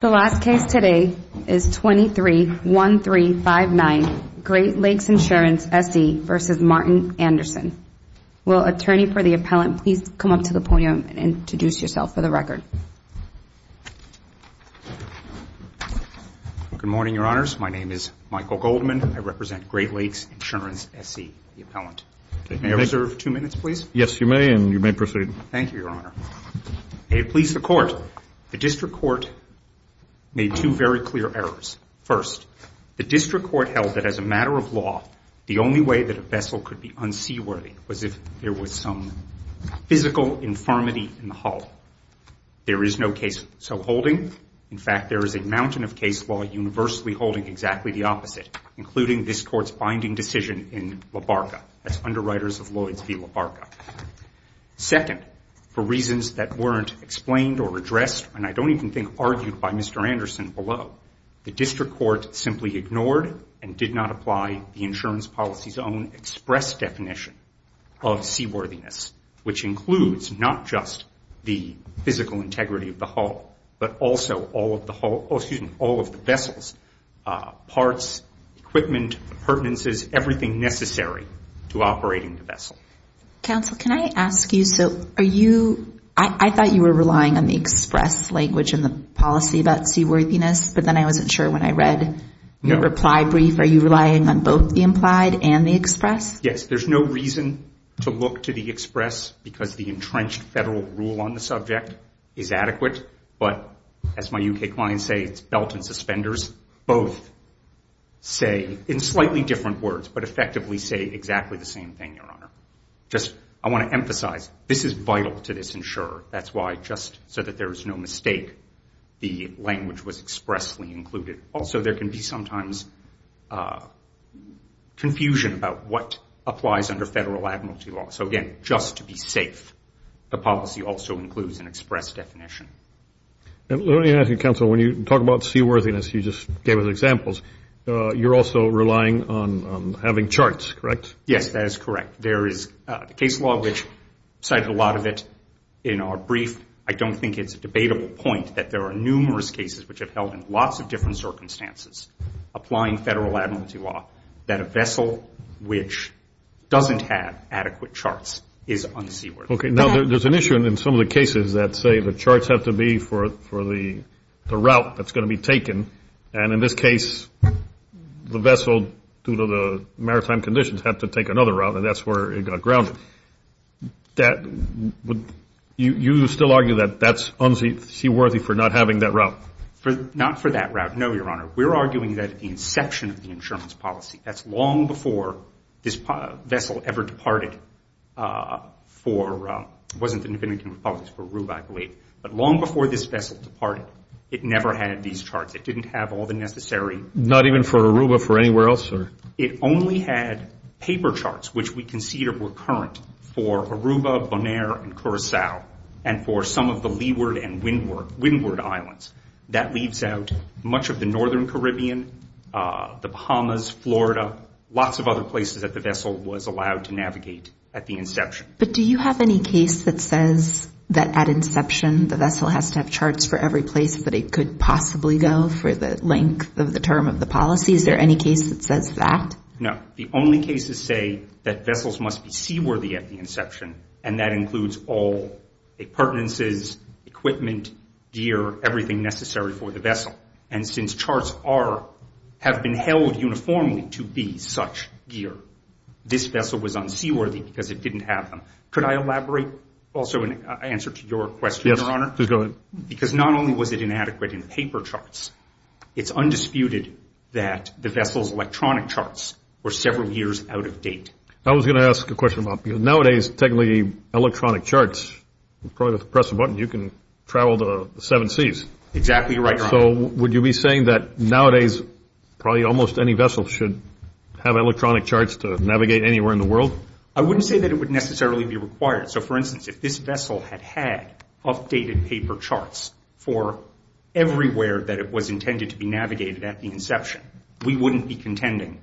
The last case today is 23-1359 Great Lakes Insurance SE v. Martin Andersson. Will attorney for the appellant please come up to the podium and introduce yourself for the record. Good morning, your honors, my name is Michael Goldman, I represent Great Lakes Insurance SE, the appellant. May I reserve two minutes, please? Yes, you may, and you may proceed. Thank you, your honor. May it please the court, the district court made two very clear errors. First, the district court held that as a matter of law, the only way that a vessel could be unseaworthy was if there was some physical infirmity in the hull. There is no case so holding, in fact, there is a mountain of case law universally holding exactly the opposite, including this court's binding decision in LaBarca, that's underwriters of Lloyds v. LaBarca. Second, for reasons that weren't explained or addressed, and I don't even think argued by Mr. Andersson below, the district court simply ignored and did not apply the insurance policy's own express definition of seaworthiness, which includes not just the physical integrity of the hull, but also all of the hull, excuse me, all of the vessels, parts, equipment, the pertinences, everything necessary to operating the vessel. Counsel, can I ask you, so are you, I thought you were relying on the express language in the policy about seaworthiness, but then I wasn't sure when I read your reply brief, are you relying on both the implied and the express? Yes, there's no reason to look to the express because the entrenched federal rule on the slightly different words, but effectively say exactly the same thing, Your Honor. Just I want to emphasize, this is vital to this insurer, that's why, just so that there is no mistake, the language was expressly included. Also, there can be sometimes confusion about what applies under federal admiralty law, so again, just to be safe, the policy also includes an express definition. Let me ask you, Counsel, when you talk about seaworthiness, you just gave us examples, you're also relying on having charts, correct? Yes, that is correct. There is a case law which cited a lot of it in our brief. I don't think it's a debatable point that there are numerous cases which have held in lots of different circumstances, applying federal admiralty law, that a vessel which doesn't have adequate charts is unseaworthy. Okay, now there's an issue in some of the cases that say the charts have to be for the route that's going to be taken, and in this case, the vessel, due to the maritime conditions, had to take another route, and that's where it got grounded. You still argue that that's unseaworthy for not having that route? Not for that route, no, Your Honor. We're arguing that at the inception of the insurance policy, that's long before this vessel ever departed for, it wasn't an independent company, it was for Rube, I believe, but long before this vessel departed, it never had these charts. It didn't have all the necessary... Not even for Aruba, for anywhere else? It only had paper charts, which we conceded were current for Aruba, Bonaire, and Curacao, and for some of the Leeward and Windward Islands. That leaves out much of the northern Caribbean, the Bahamas, Florida, lots of other places that the vessel was allowed to navigate at the inception. But do you have any case that says that at inception, the vessel has to have charts for every place that it could possibly go for the length of the term of the policy? Is there any case that says that? No. The only cases say that vessels must be seaworthy at the inception, and that includes all the pertinences, equipment, gear, everything necessary for the vessel. And since charts have been held uniformly to be such gear, this vessel was unseaworthy because it didn't have them. Could I elaborate also in answer to your question, Your Honor? Yes, please go ahead. Because not only was it inadequate in paper charts, it's undisputed that the vessel's electronic charts were several years out of date. I was going to ask a question about, nowadays, technically, electronic charts, probably just press a button, you can travel to the seven seas. Exactly right, Your Honor. So would you be saying that nowadays, probably almost any vessel should have electronic charts to navigate anywhere in the world? I wouldn't say that it would necessarily be required. So for instance, if this vessel had had updated paper charts for everywhere that it was intended to be navigated at the inception, we wouldn't be contending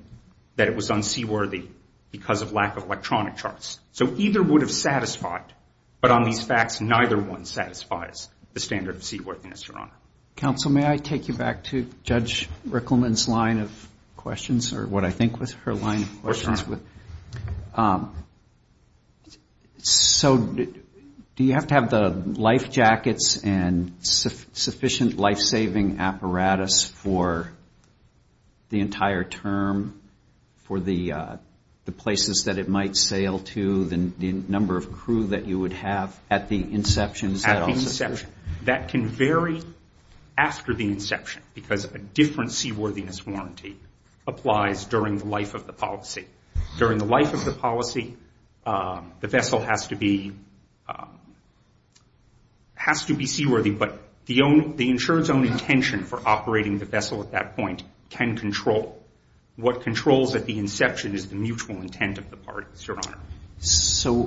that it was unseaworthy because of lack of electronic charts. So either would have satisfied, but on these facts, neither one satisfies the standard of seaworthiness, Your Honor. Counsel, may I take you back to Judge Rickleman's line of questions, or what I think was her line of questions was, so do you have to have the life jackets and sufficient life-saving apparatus for the entire term, for the places that it might sail to, the number of crew that you would have at the inception? At the inception. That can vary after the inception, because a different seaworthiness warranty applies during the life of the policy. During the life of the policy, the vessel has to be seaworthy, but the insurer's own intention for operating the vessel at that point can control what controls at the inception is the mutual intent of the parties, Your Honor. So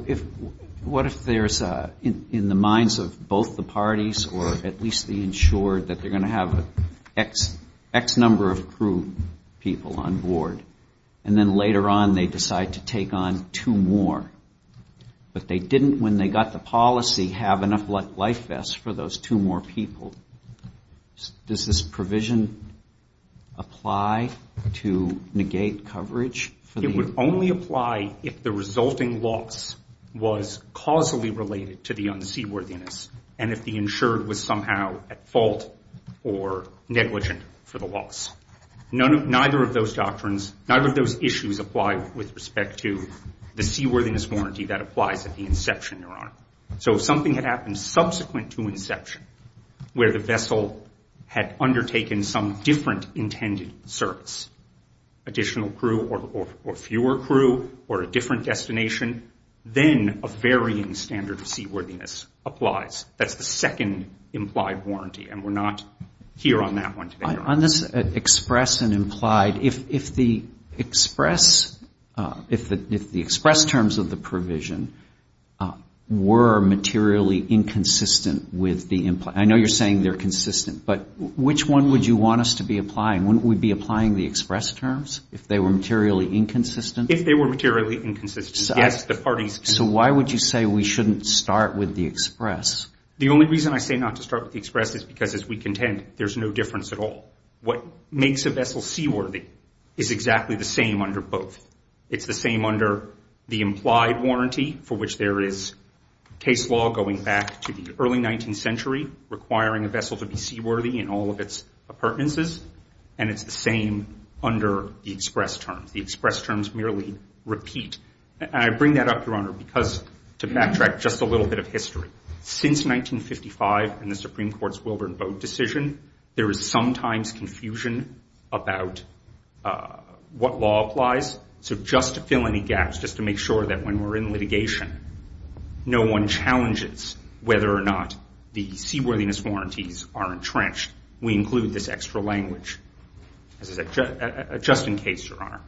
what if there's, in the minds of both the parties, or at least the insurer, that they're on board, and then later on, they decide to take on two more, but they didn't, when they got the policy, have enough life vests for those two more people. Does this provision apply to negate coverage? It would only apply if the resulting loss was causally related to the unseaworthiness, and if the insured was somehow at fault or negligent for the loss. Neither of those doctrines, neither of those issues, apply with respect to the seaworthiness warranty that applies at the inception, Your Honor. So if something had happened subsequent to inception, where the vessel had undertaken some different intended service, additional crew or fewer crew or a different destination, then a varying standard of seaworthiness applies. That's the second implied warranty, and we're not here on that one today, Your Honor. On this express and implied, if the express terms of the provision were materially inconsistent with the implied, I know you're saying they're consistent, but which one would you want us to be applying? Wouldn't we be applying the express terms if they were materially inconsistent? If they were materially inconsistent, yes, the parties can. So why would you say we shouldn't start with the express? The only reason I say not to start with the express is because, as we contend, there's no difference at all. What makes a vessel seaworthy is exactly the same under both. It's the same under the implied warranty, for which there is case law going back to the early 19th century requiring a vessel to be seaworthy in all of its appurtenances, and it's the same under the express terms. The express terms merely repeat, and I bring that up, Your Honor, because to backtrack just a little bit of history, since 1955 and the Supreme Court's Wilbur and Bode decision, there is sometimes confusion about what law applies. So just to fill any gaps, just to make sure that when we're in litigation, no one challenges whether or not the seaworthiness warranties are entrenched, we include this extra language. Just in case, Your Honor.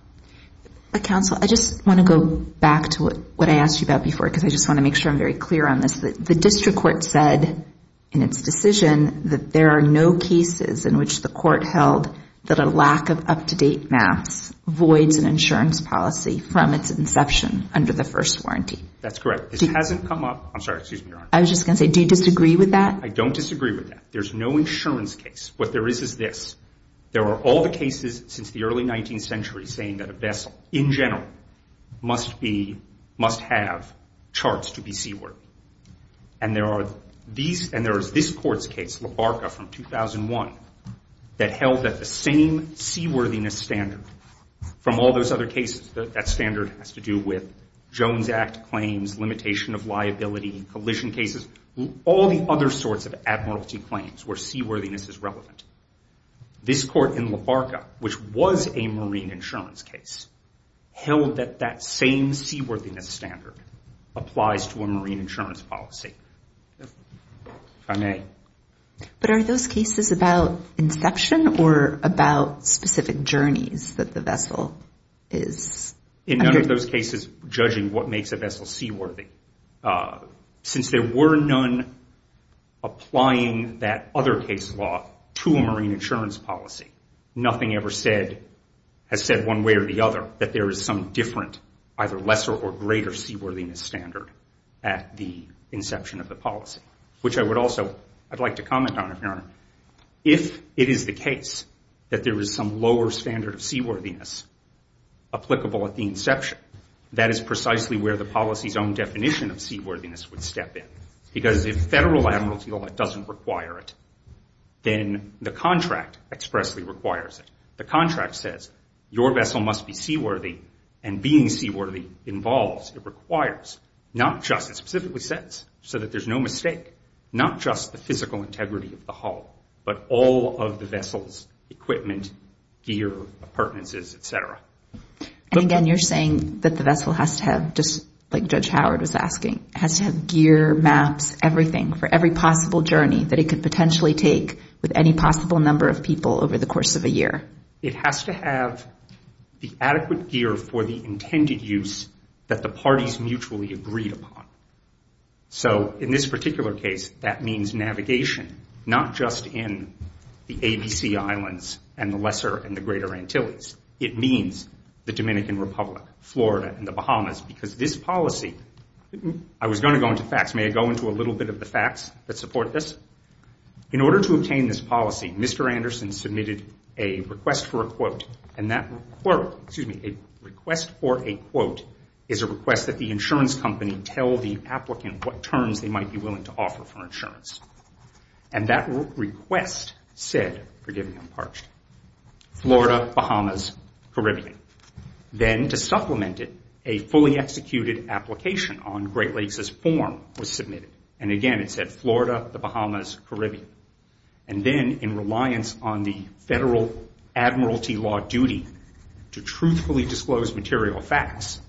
Counsel, I just want to go back to what I asked you about before, because I just want to make sure I'm very clear on this. The district court said in its decision that there are no cases in which the court held that a lack of up-to-date maps voids an insurance policy from its inception under the first warranty. That's correct. It hasn't come up. I'm sorry. Excuse me, Your Honor. I was just going to say, do you disagree with that? I don't disagree with that. There's no insurance case. What there is is this. There are all the cases since the early 19th century saying that a vessel, in general, must have charts to be seaworthy. And there is this court's case, La Barca from 2001, that held that the same seaworthiness standard from all those other cases, that standard has to do with Jones Act claims, limitation of liability, collision cases, all the other sorts of admiralty claims where seaworthiness is relevant. This court in La Barca, which was a marine insurance case, held that that same seaworthiness standard applies to a marine insurance policy, if I may. But are those cases about inception or about specific journeys that the vessel is under? In none of those cases, judging what makes a vessel seaworthy. Since there were none applying that other case law to a marine insurance policy, nothing ever has said one way or the other that there is some different, either lesser or greater seaworthiness standard at the inception of the policy. Which I would also like to comment on, Your Honor. If it is the case that there is some lower standard of seaworthiness applicable at the Because if federal admiralty law doesn't require it, then the contract expressly requires it. The contract says, your vessel must be seaworthy, and being seaworthy involves, it requires, not just, it specifically says, so that there's no mistake, not just the physical integrity of the hull, but all of the vessel's equipment, gear, appurtenances, et cetera. And again, you're saying that the vessel has to have, just like Judge Howard was asking, has to have gear, maps, everything for every possible journey that it could potentially take with any possible number of people over the course of a year. It has to have the adequate gear for the intended use that the parties mutually agreed upon. So in this particular case, that means navigation, not just in the ABC islands and the lesser and the greater Antilles. It means the Dominican Republic, Florida, and the Bahamas. Because this policy, I was going to go into facts. May I go into a little bit of the facts that support this? In order to obtain this policy, Mr. Anderson submitted a request for a quote. And that quote, excuse me, a request for a quote is a request that the insurance company tell the applicant what terms they might be willing to offer for insurance. And that request said, forgive me, I'm parched, Florida, Bahamas, Caribbean. Then to supplement it, a fully executed application on Great Lakes' form was submitted. And again, it said Florida, the Bahamas, Caribbean. And then in reliance on the federal admiralty law duty to truthfully disclose material facts,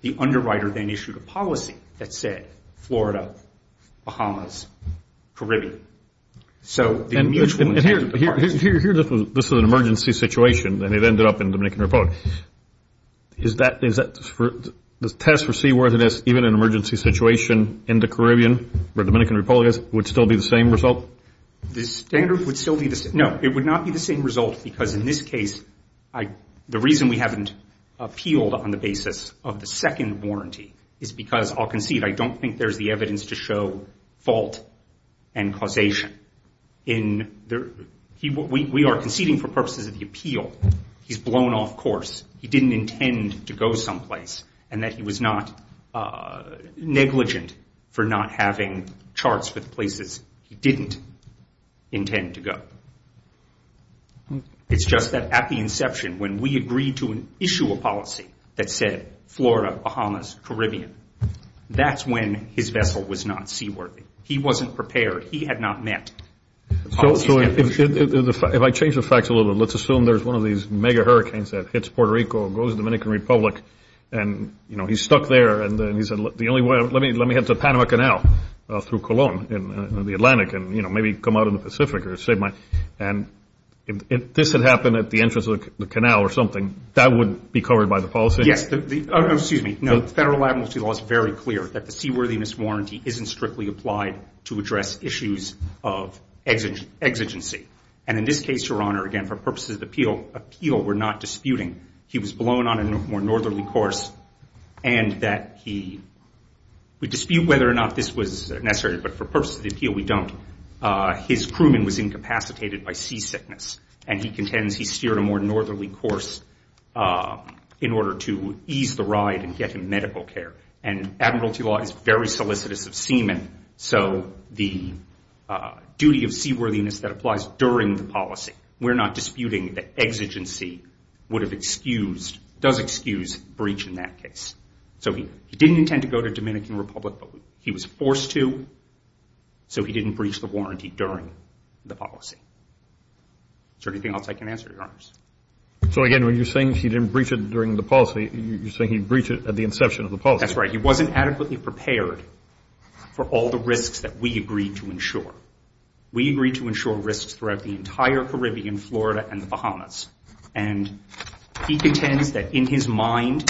the underwriter then issued a policy that said Florida, Bahamas, Caribbean. So the mutual intent of the parties... And here, this is an emergency situation, and it ended up in the Dominican Republic. Is that, the test for seaworthiness, even in an emergency situation in the Caribbean where the Dominican Republic is, would still be the same result? The standard would still be the same. No, it would not be the same result because in this case, the reason we haven't appealed on the basis of the second warranty is because, I'll concede, I don't think there's the evidence to show fault and causation. We are conceding for purposes of the appeal. He's blown off course. He didn't intend to go someplace. And that he was not negligent for not having charts with places he didn't intend to go. It's just that at the inception, when we agreed to issue a policy that said Florida, Bahamas, Caribbean, that's when his vessel was not seaworthy. He wasn't prepared. He had not met the policy standards. So if I change the facts a little bit, let's assume there's one of these mega hurricanes that hits Puerto Rico, goes to the Dominican Republic, and he's stuck there, and he said, the only way, let me head to Panama Canal through Cologne in the Atlantic, and maybe come out in the Pacific. And if this had happened at the entrance of the canal or something, that would be covered by the policy? Yes. Oh, no, excuse me. No, the federal amnesty law is very clear that the seaworthiness warranty isn't strictly applied to address issues of exigency. And in this case, Your Honor, again, for purposes of the appeal, we're not disputing. He was blown on a more northerly course, and that he would dispute whether or not this was necessary. But for purposes of the appeal, we don't. His crewman was incapacitated by seasickness, and he contends he steered a more northerly course in order to ease the ride and get him medical care. And admiralty law is very solicitous of seamen. So the duty of seaworthiness that applies during the policy, we're not disputing that exigency would have excused, does excuse, breach in that case. So he didn't intend to go to Dominican Republic, but he was forced to, so he didn't breach the warranty during the policy. Is there anything else I can answer, Your Honors? So, again, when you're saying he didn't breach it during the policy, you're saying he breached it at the inception of the policy. That's right. He wasn't adequately prepared for all the risks that we agreed to ensure. And he contends that in his mind,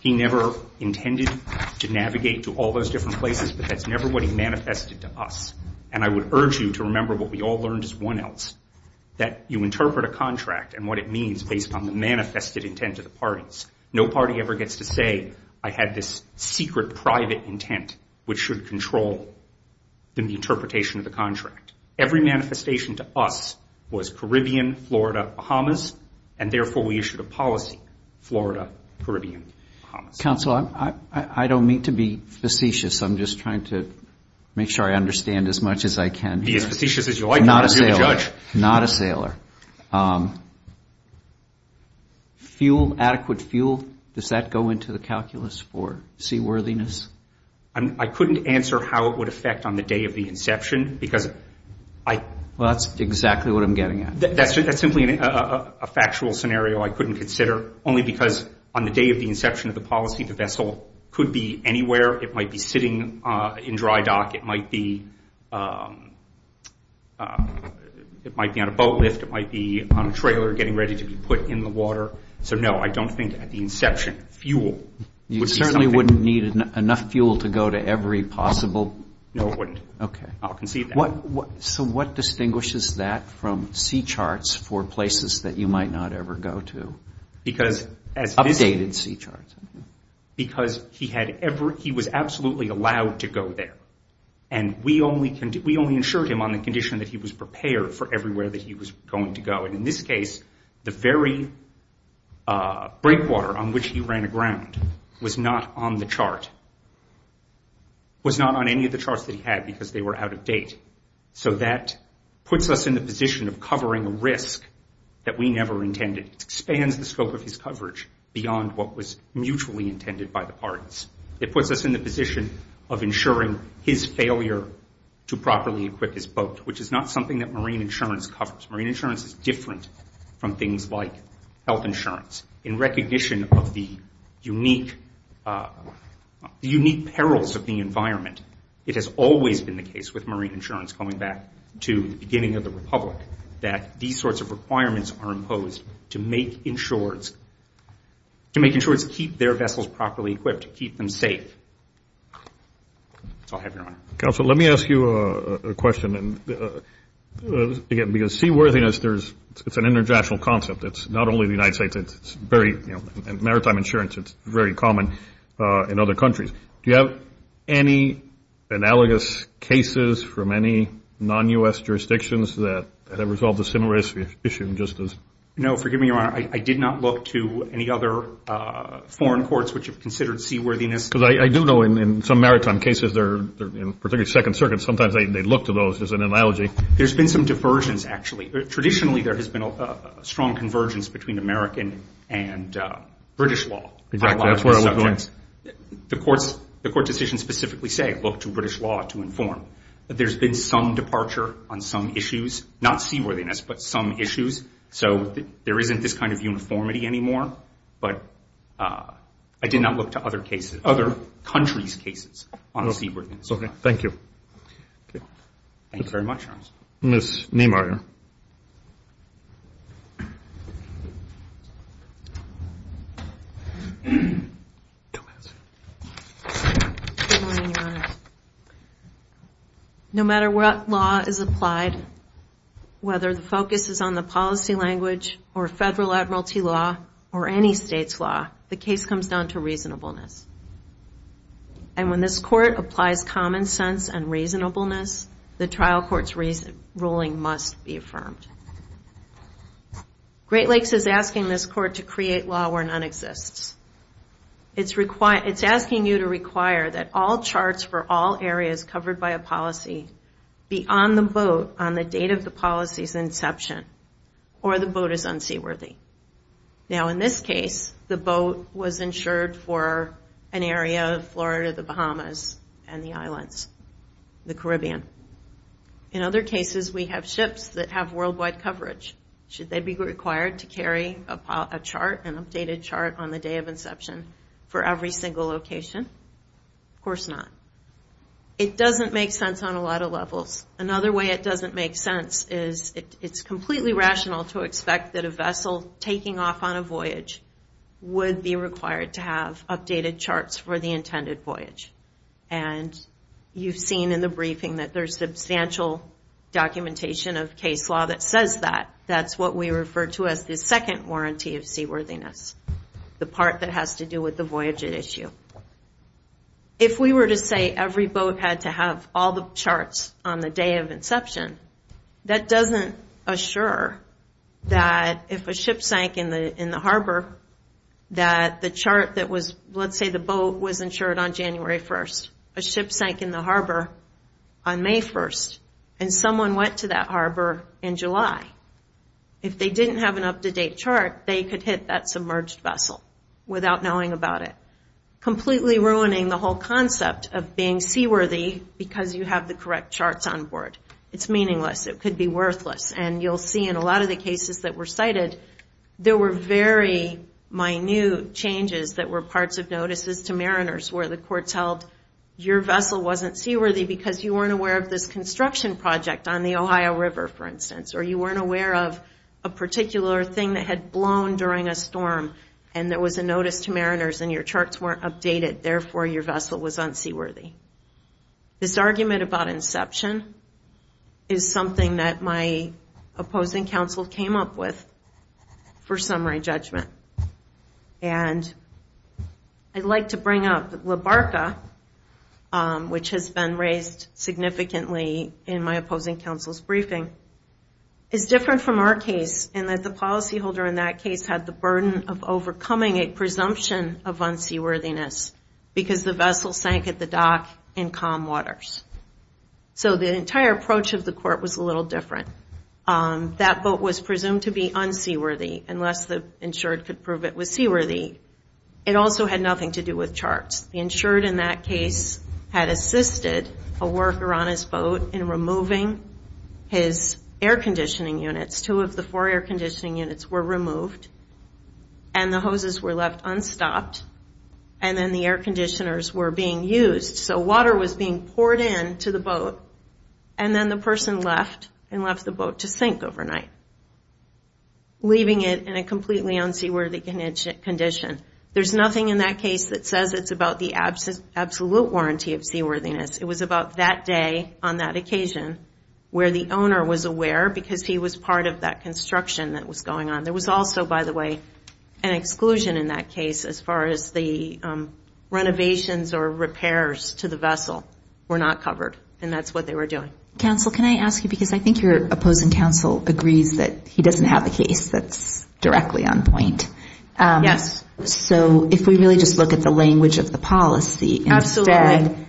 he never intended to navigate to all those different places, but that's never what he manifested to us. And I would urge you to remember what we all learned as 1Ls, that you interpret a contract and what it means based on the manifested intent of the parties. No party ever gets to say, I had this secret private intent which should control the interpretation of the contract. Every manifestation to us was Caribbean, Florida, Bahamas, and therefore we issued a policy, Florida, Caribbean, Bahamas. Counsel, I don't mean to be facetious. I'm just trying to make sure I understand as much as I can. Be as facetious as you like. Not a sailor. Not a sailor. Fuel, adequate fuel, does that go into the calculus for seaworthiness? I couldn't answer how it would affect on the day of the inception because I... Well, that's exactly what I'm getting at. That's simply a factual scenario I couldn't consider only because on the day of the inception of the policy, the vessel could be anywhere. It might be sitting in dry dock. It might be on a boat lift. It might be on a trailer getting ready to be put in the water. So no, I don't think at the inception, fuel... You certainly wouldn't need enough fuel to go to every possible... No, I wouldn't. Okay. I'll concede that. So what distinguishes that from sea charts for places that you might not ever go to? Because as... Updated sea charts. Because he was absolutely allowed to go there. And we only insured him on the condition that he was prepared for everywhere that he was going to go. In this case, the very breakwater on which he ran aground was not on the chart, was not on any of the charts that he had because they were out of date. So that puts us in the position of covering a risk that we never intended. It expands the scope of his coverage beyond what was mutually intended by the parties. It puts us in the position of insuring his failure to properly equip his boat, which is not something that marine insurance covers. Marine insurance is different from things like health insurance. In recognition of the unique perils of the environment, it has always been the case with marine insurance, going back to the beginning of the Republic, that these sorts of requirements are imposed to make insureds keep their vessels properly equipped, keep them safe. So I'll have your honor. Counselor, let me ask you a question. And again, because seaworthiness, it's an international concept. It's not only the United States. It's maritime insurance. It's very common in other countries. Do you have any analogous cases from any non-U.S. jurisdictions that have resolved the similar issue just as? No. Forgive me, your honor. I did not look to any other foreign courts which have considered seaworthiness. Because I do know in some maritime cases, particularly Second Circuit, sometimes they look to those as an analogy. There's been some diversions, actually. Traditionally, there has been a strong convergence between American and British law. Exactly. That's where I was going. The court decisions specifically say, look to British law to inform. There's been some departure on some issues. Not seaworthiness, but some issues. So there isn't this kind of uniformity anymore. But I did not look to other countries' cases on seaworthiness. Thank you. Thank you very much, your honor. Ms. Neymar. No matter what law is applied, whether the focus is on the policy language, or federal admiralty law, or any state's law, the case comes down to reasonableness. And when this court applies common sense and reasonableness, the trial court's ruling must be affirmed. Great Lakes is asking this court to create law where none exists. It's asking you to require that all charts for all areas covered by a policy be on the boat on the date of the policy's inception, or the boat is unseaworthy. Now, in this case, the boat was insured for an area of Florida, the Bahamas, and the islands, the Caribbean. In other cases, we have ships that have worldwide coverage. Should they be required to carry a chart, an updated chart, on the day of inception for every single location? Of course not. It doesn't make sense on a lot of levels. Another way it doesn't make sense is it's completely rational to expect that a vessel taking off on a voyage would be required to have updated charts for the intended voyage. And you've seen in the briefing that there's substantial documentation of case law that says that. That's what we refer to as the second warranty of seaworthiness. The part that has to do with the voyage at issue. If we were to say every boat had to have all the charts on the day of inception, that doesn't assure that if a ship sank in the harbor, that the chart that was, let's say the boat was insured on January 1st, a ship sank in the harbor on May 1st, and someone went to that harbor in July. If they didn't have an up-to-date chart, they could hit that submerged vessel without knowing about it. Completely ruining the whole concept of being seaworthy because you have the correct charts on board. It's meaningless. It could be worthless. And you'll see in a lot of the cases that were cited, there were very minute changes that were parts of notices to mariners where the courts held your vessel wasn't seaworthy because you weren't aware of this construction project on the Ohio River, for instance. Or you weren't aware of a particular thing that had blown during a storm and there was a notice to mariners and your charts weren't updated. Therefore, your vessel was unseaworthy. This argument about inception is something that my opposing counsel came up with for summary judgment. And I'd like to bring up LABARCA, which has been raised significantly in my opposing counsel's briefing, is different from our case in that the policyholder in that case had the burden of overcoming a presumption of unseaworthiness because the vessel sank at the dock in calm waters. So the entire approach of the court was a little different. That boat was presumed to be unseaworthy unless the insured could prove it was seaworthy. It also had nothing to do with charts. The insured in that case had assisted a worker on his boat in removing his air conditioning units. Two of the four air conditioning units were removed and the hoses were left unstopped. And then the air conditioners were being used. So water was being poured into the boat and then the person left and left the boat to sink overnight, leaving it in a completely unseaworthy condition. There's nothing in that case that says it's about the absolute warranty of seaworthiness. It was about that day on that occasion where the owner was aware because he was part of that construction that was going on. There was also, by the way, an exclusion in that case as far as the renovations or repairs to the vessel were not covered. And that's what they were doing. Counsel, can I ask you, because I think your opposing counsel agrees that he doesn't have a case that's directly on point. Yes. So if we really just look at the language of the policy, instead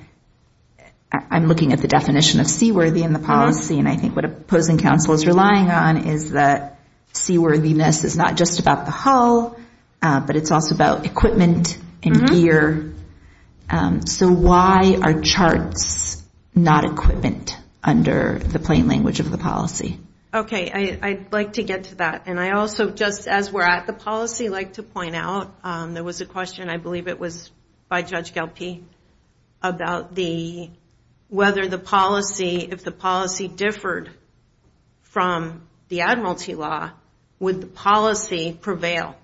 I'm looking at the definition of seaworthy in the policy. And I think what opposing counsel is relying on is that seaworthiness is not just about the hull, but it's also about equipment and gear. So why are charts not equipment under the plain language of the policy? Okay, I'd like to get to that. And I also, just as we're at the policy, like to point out there was a question, I believe it was by Judge Galppi, about whether the policy, if the policy differed from the Admiralty Law, would the policy prevail?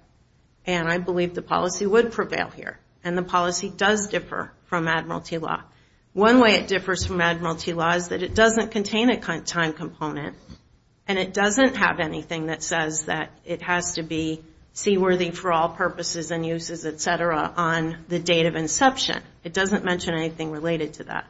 And I believe the policy would prevail here. And the policy does differ from Admiralty Law. One way it differs from Admiralty Law is that it doesn't contain a time component, and it doesn't have anything that says that it has to be seaworthy for all purposes and uses, et cetera, on the date of inception. It doesn't mention anything related to that.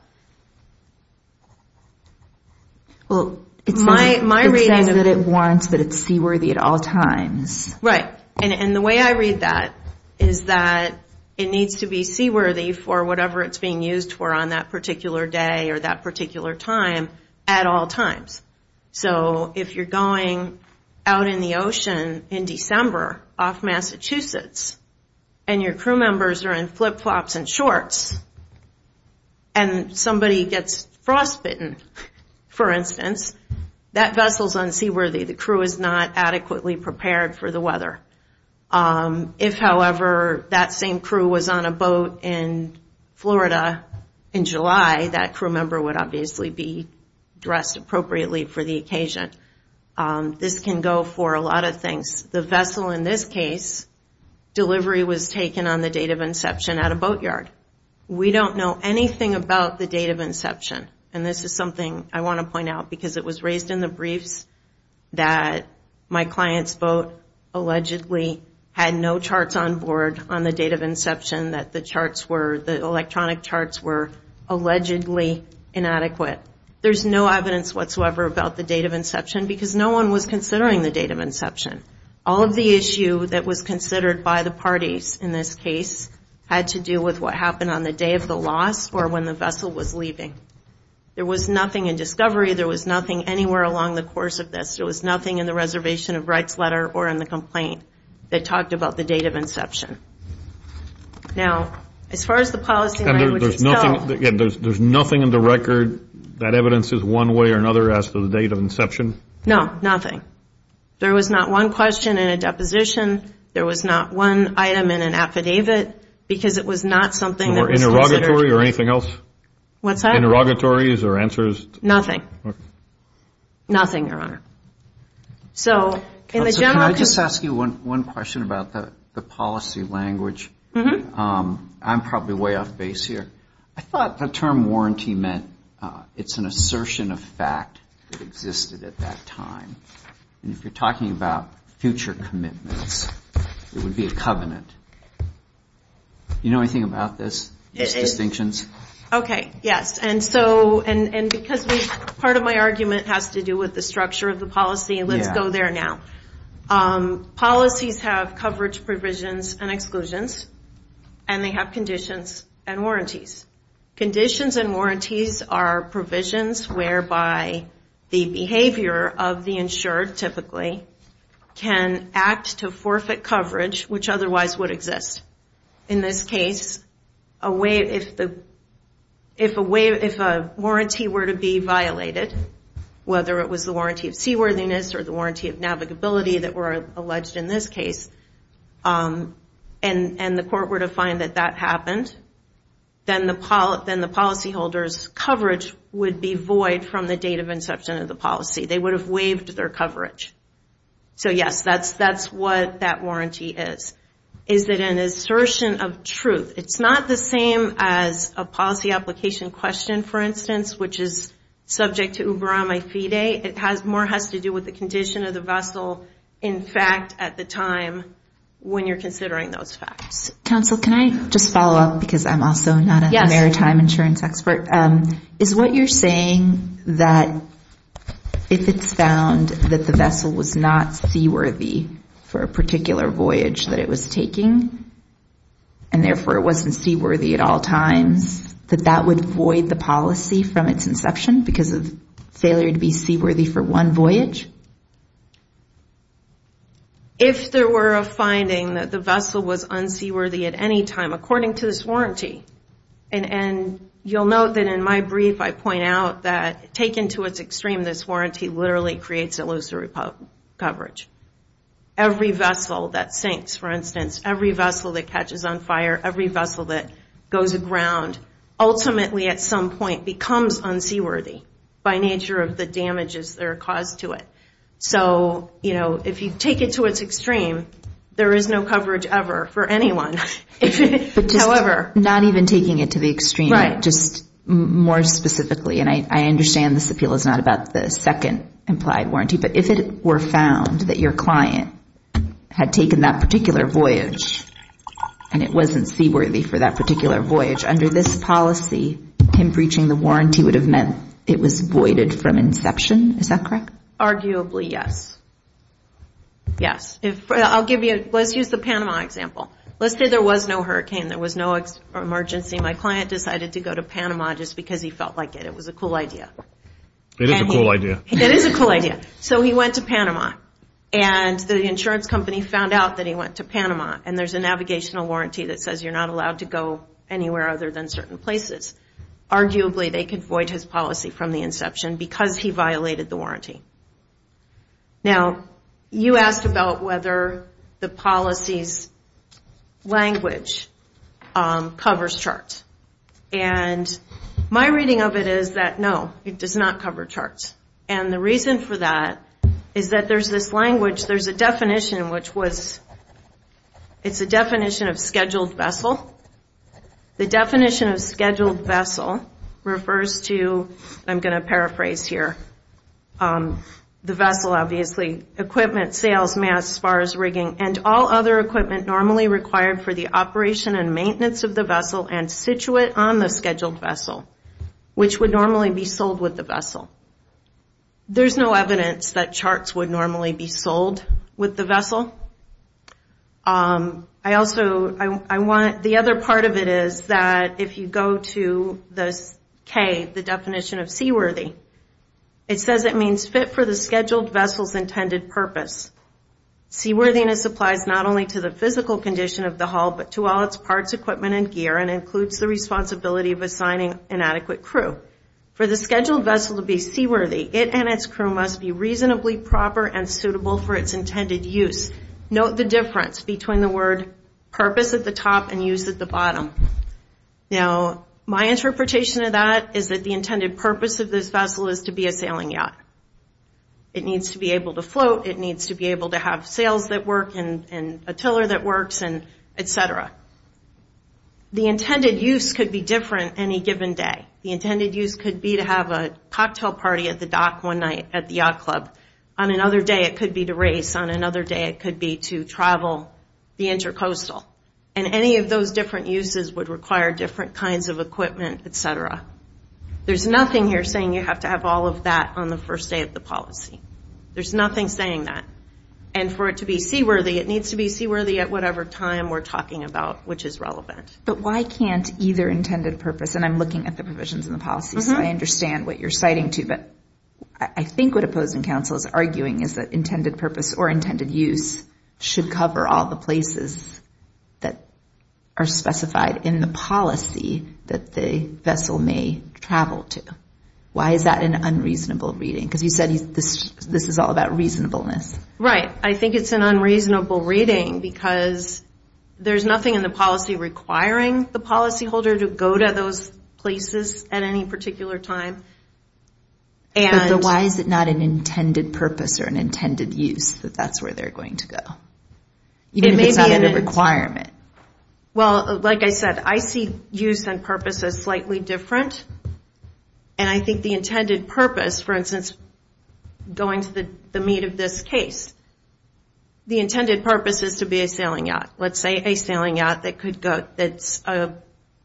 Well, it says that it warrants that it's seaworthy at all times. Right, and the way I read that is that it needs to be seaworthy for whatever it's being used for on that particular day or that particular time at all times. So if you're going out in the ocean in December off Massachusetts, and your crew members are in flip-flops and shorts, and somebody gets frostbitten, for instance, that vessel's unseaworthy. The crew is not adequately prepared for the weather. If, however, that same crew was on a boat in Florida in July, that crew member would obviously be dressed appropriately for the occasion. This can go for a lot of things. The vessel in this case, delivery was taken on the date of inception at a boatyard. We don't know anything about the date of inception. And this is something I want to point out because it was raised in the briefs that my client's boat allegedly had no charts on board on the date of inception, that the charts were, the electronic charts were allegedly inadequate. There's no evidence whatsoever about the date of inception because no one was considering the date of inception. All of the issue that was considered by the parties in this case had to do with what happened on the day of the loss or when the vessel was leaving. There was nothing in discovery. There was nothing anywhere along the course of this. There was nothing in the reservation of rights letter or in the complaint that talked about the date of inception. Now, as far as the policy... And there's nothing in the record that evidences one way or another as to the date of inception? No, nothing. There was not one question in a deposition. There was not one item in an affidavit. Because it was not something that was... Or interrogatory or anything else? What's that? Interrogatories or answers? Nothing. Nothing, Your Honor. So, in the general... Can I just ask you one question about the policy language? I'm probably way off base here. I thought the term warranty meant it's an assertion of fact that existed at that time. And if you're talking about future commitments, it would be a covenant. Do you know anything about these distinctions? Okay, yes. And because part of my argument has to do with the structure of the policy, let's go there now. Policies have coverage provisions and exclusions. And they have conditions and warranties. Conditions and warranties are provisions whereby the behavior of the insured, typically, can act to forfeit coverage, which otherwise would exist. In this case, if a warranty were to be violated, whether it was the warranty of seaworthiness or the warranty of navigability that were alleged in this case, and the court were to find that that happened, then the policyholder's coverage would be void from the date of inception of the policy. They would have waived their coverage. So, yes, that's what that warranty is. Is it an assertion of truth? It's not the same as a policy application question, for instance, which is subject to Uber on my fee day. It more has to do with the condition of the vessel in fact at the time when you're considering those facts. Counsel, can I just follow up? Because I'm also not a maritime insurance expert. Is what you're saying that if it's found that the vessel was not seaworthy for a particular voyage that it was taking, and therefore it wasn't seaworthy at all times, that that would void the policy from its inception because of failure to be seaworthy for one voyage? If there were a finding that the vessel was unseaworthy at any time, according to this warranty, and you'll note that in my brief, I point out that taken to its extreme, this warranty literally creates illusory coverage. Every vessel that sinks, for instance, every vessel that catches on fire, every vessel that goes aground, ultimately at some point becomes unseaworthy by nature of the damages that are caused to it. So, you know, if you take it to its extreme, there is no coverage ever for anyone. However... Not even taking it to the extreme, just more specifically, and I understand this appeal is not about the second implied warranty, but if it were found that your client had taken that particular voyage and it wasn't seaworthy for that particular voyage, under this policy, him breaching the warranty would have meant it was voided from inception. Is that correct? Arguably, yes. Yes. I'll give you... Let's use the Panama example. Let's say there was no hurricane. There was no emergency. My client decided to go to Panama just because he felt like it. It was a cool idea. It is a cool idea. It is a cool idea. So he went to Panama and the insurance company found out that he went to Panama and there's a navigational warranty that says you're not allowed to go anywhere other than certain places. Arguably, they could void his policy from the inception because he violated the warranty. Now, you asked about whether the policy's language covers charts. And my reading of it is that, no, it does not cover charts. And the reason for that is that there's this language, there's a definition which was... It's a definition of scheduled vessel. The definition of scheduled vessel refers to... I'm going to paraphrase here. The vessel, obviously, equipment, sales, mass, spars, rigging, and all other equipment normally required for the operation and maintenance of the vessel and situate on the scheduled vessel, which would normally be sold with the vessel. There's no evidence that charts would normally be sold with the vessel. The other part of it is that if you go to the K, the definition of seaworthy, it says it means fit for the scheduled vessel's intended purpose. Seaworthiness applies not only to the physical condition of the hull, but to all its parts, equipment, and gear, and includes the responsibility of assigning an adequate crew. For the scheduled vessel to be seaworthy, it and its crew must be reasonably proper and suitable for its intended use. Note the difference between the word purpose at the top and use at the bottom. Now, my interpretation of that is that the intended purpose of this vessel is to be a sailing yacht. It needs to be able to float, it needs to be able to have sails that work, and a tiller that works, and et cetera. The intended use could be different any given day. The intended use could be to have a cocktail party at the dock one night at the yacht club. On another day, it could be to race. On another day, it could be to travel the intercoastal. And any of those different uses would require different kinds of equipment, et cetera. There's nothing here saying you have to have all of that on the first day of the policy. There's nothing saying that. And for it to be seaworthy, it needs to be seaworthy at whatever time we're talking about, which is relevant. But why can't either intended purpose, and I'm looking at the provisions in the policy, so I understand what you're citing too, but I think what opposing counsel is arguing is that intended purpose or intended use should cover all the places that are specified in the policy that the vessel may travel to. Why is that an unreasonable reading? Because you said this is all about reasonableness. Right. I think it's an unreasonable reading because there's nothing in the policy requiring the policyholder to go to those places at any particular time. But why is it not an intended purpose or an intended use that that's where they're going to go? Even if it's not a requirement. Well, like I said, I see use and purpose as slightly different. And I think the intended purpose, for instance, going to the meat of this case, the intended purpose is to be a sailing yacht. Let's say a sailing yacht that's a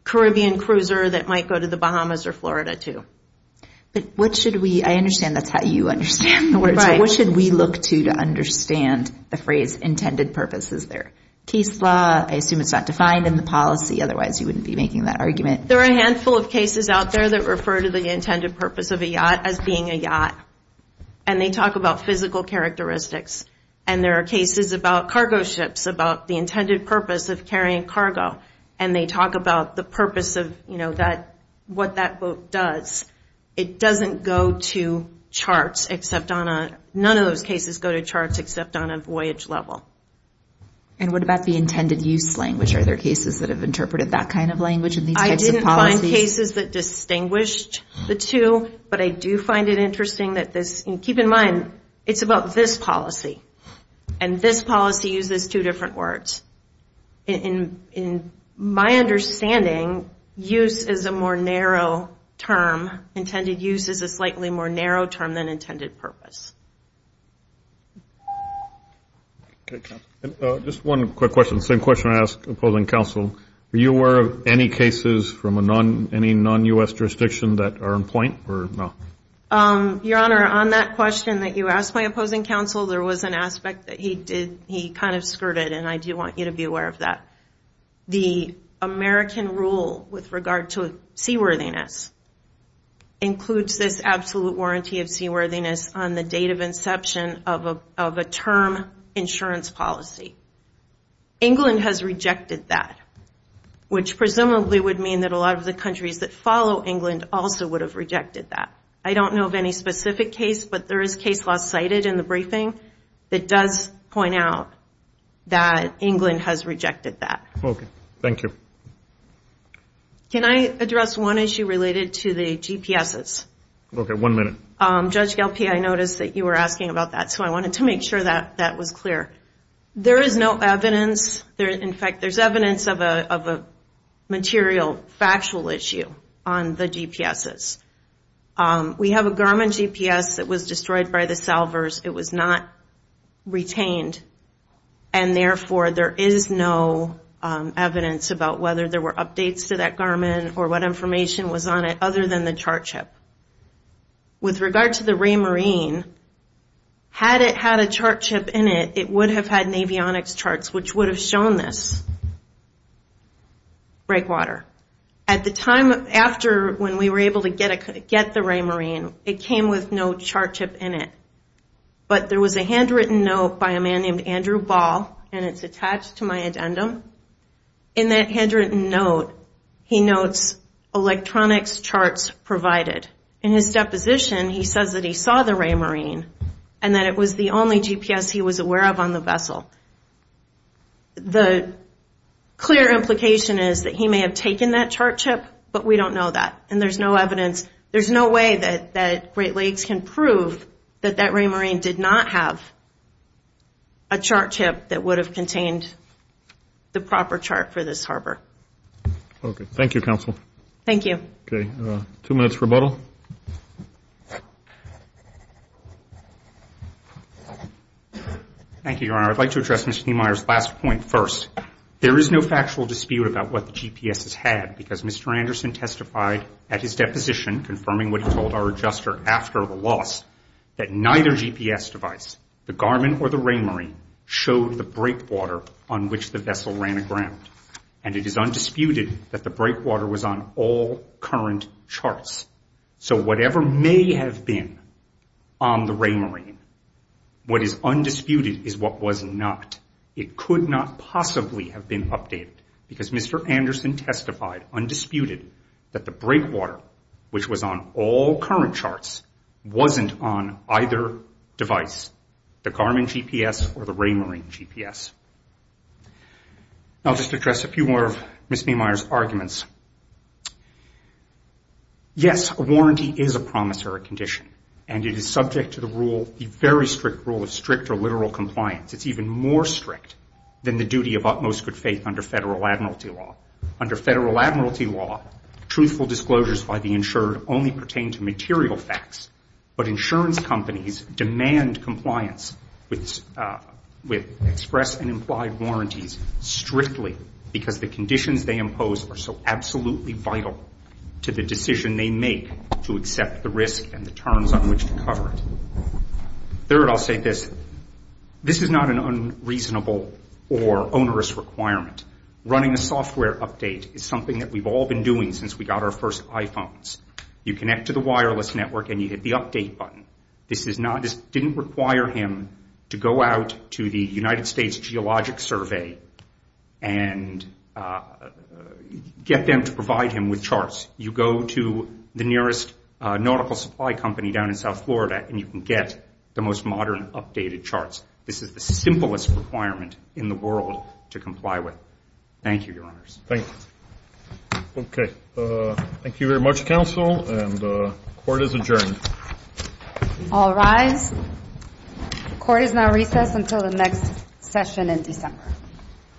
Caribbean cruiser that might go to the Bahamas or Florida too. But what should we... I understand that's how you understand the words. What should we look to to understand the phrase intended purpose? Is there case law? I assume it's not defined in the policy. Otherwise, you wouldn't be making that argument. There are a handful of cases out there that refer to the intended purpose of a yacht as being a yacht. And they talk about physical characteristics. And there are cases about cargo ships, about the intended purpose of carrying cargo. And they talk about the purpose of what that boat does. It doesn't go to charts except on a... None of those cases go to charts except on a voyage level. And what about the intended use language? Are there cases that have interpreted that kind of language in these types of policies? I didn't find cases that distinguished the two. But I do find it interesting that this... Keep in mind, it's about this policy. And this policy uses two different words. In my understanding, use is a more narrow term. Intended use is a slightly more narrow term than intended purpose. Okay. Just one quick question. Same question I ask opposing counsel. Are you aware of any cases from a non... Any non-U.S. jurisdiction that are in point or no? Your Honor, on that question that you asked my opposing counsel, there was an aspect that he did... He kind of skirted. And I do want you to be aware of that. The American rule with regard to seaworthiness includes this absolute warranty of seaworthiness on the date of inception of a term insurance policy. England has rejected that. Which presumably would mean that a lot of the countries that follow England also would have rejected that. I don't know of any specific case, but there is a case last cited in the briefing that does point out that England has rejected that. Okay. Thank you. Can I address one issue related to the GPSs? Okay. One minute. Judge Galppi, I noticed that you were asking about that. So I wanted to make sure that that was clear. There is no evidence. In fact, there's evidence of a material, factual issue on the GPSs. We have a Garmin GPS that was destroyed by the salvers. It was not retained. And therefore, there is no evidence about whether there were updates to that Garmin or what information was on it other than the chart chip. With regard to the Raymarine, had it had a chart chip in it, it would have had an avionics charts which would have shown this breakwater. At the time after when we were able to get the Raymarine, it came with no chart chip in it. But there was a handwritten note by a man named Andrew Ball, and it's attached to my addendum. In that handwritten note, he notes electronics charts provided. In his deposition, he says that he saw the Raymarine and that it was the only GPS he was aware of on the vessel. The clear implication is that he may have taken that chart chip, but we don't know that. And there's no evidence, there's no way that Great Lakes can prove that that Raymarine did not have a chart chip that would have contained the proper chart for this harbor. Okay. Thank you, Counsel. Thank you. Okay. Two minutes rebuttal. Thank you, Your Honor. I'd like to address Mr. Thiemeier's last point first. There is no factual dispute about what the GPS has had because Mr. Anderson testified at his deposition, confirming what he told our adjuster after the loss, that neither GPS device, the Garmin or the Raymarine, showed the breakwater on which the vessel ran aground. And it is undisputed that the breakwater was on all current charts. So whatever may have been on the Raymarine, what is undisputed is what was not. It could not possibly have been updated because Mr. Anderson testified undisputed that the breakwater, which was on all current charts, wasn't on either device, the Garmin GPS or the Raymarine GPS. I'll just address a few more of Ms. Thiemeier's arguments. Yes, a warranty is a promissory condition and it is subject to the rule, the very strict rule of strict or literal compliance. It's even more strict than the duty of utmost good faith under federal admiralty law. Under federal admiralty law, truthful disclosures by the insured only pertain to material facts. But insurance companies demand compliance with express and implied warranties strictly because the conditions they impose are so absolutely vital to the decision they make to accept the risk and the terms on which to cover it. Third, I'll say this. This is not an unreasonable or onerous requirement. Running a software update is something that we've all been doing since we got our first iPhones. You connect to the wireless network and you hit the update button. This didn't require him to go out to the United States Geologic Survey and get them to provide him with charts. You go to the nearest nautical supply company down in South Florida and you can get the most modern updated charts. This is the simplest requirement in the world to comply with. Thank you, your honors. Thank you. Okay, thank you very much, counsel. And the court is adjourned. All rise. The court is now recessed until the next session in December. Thank you.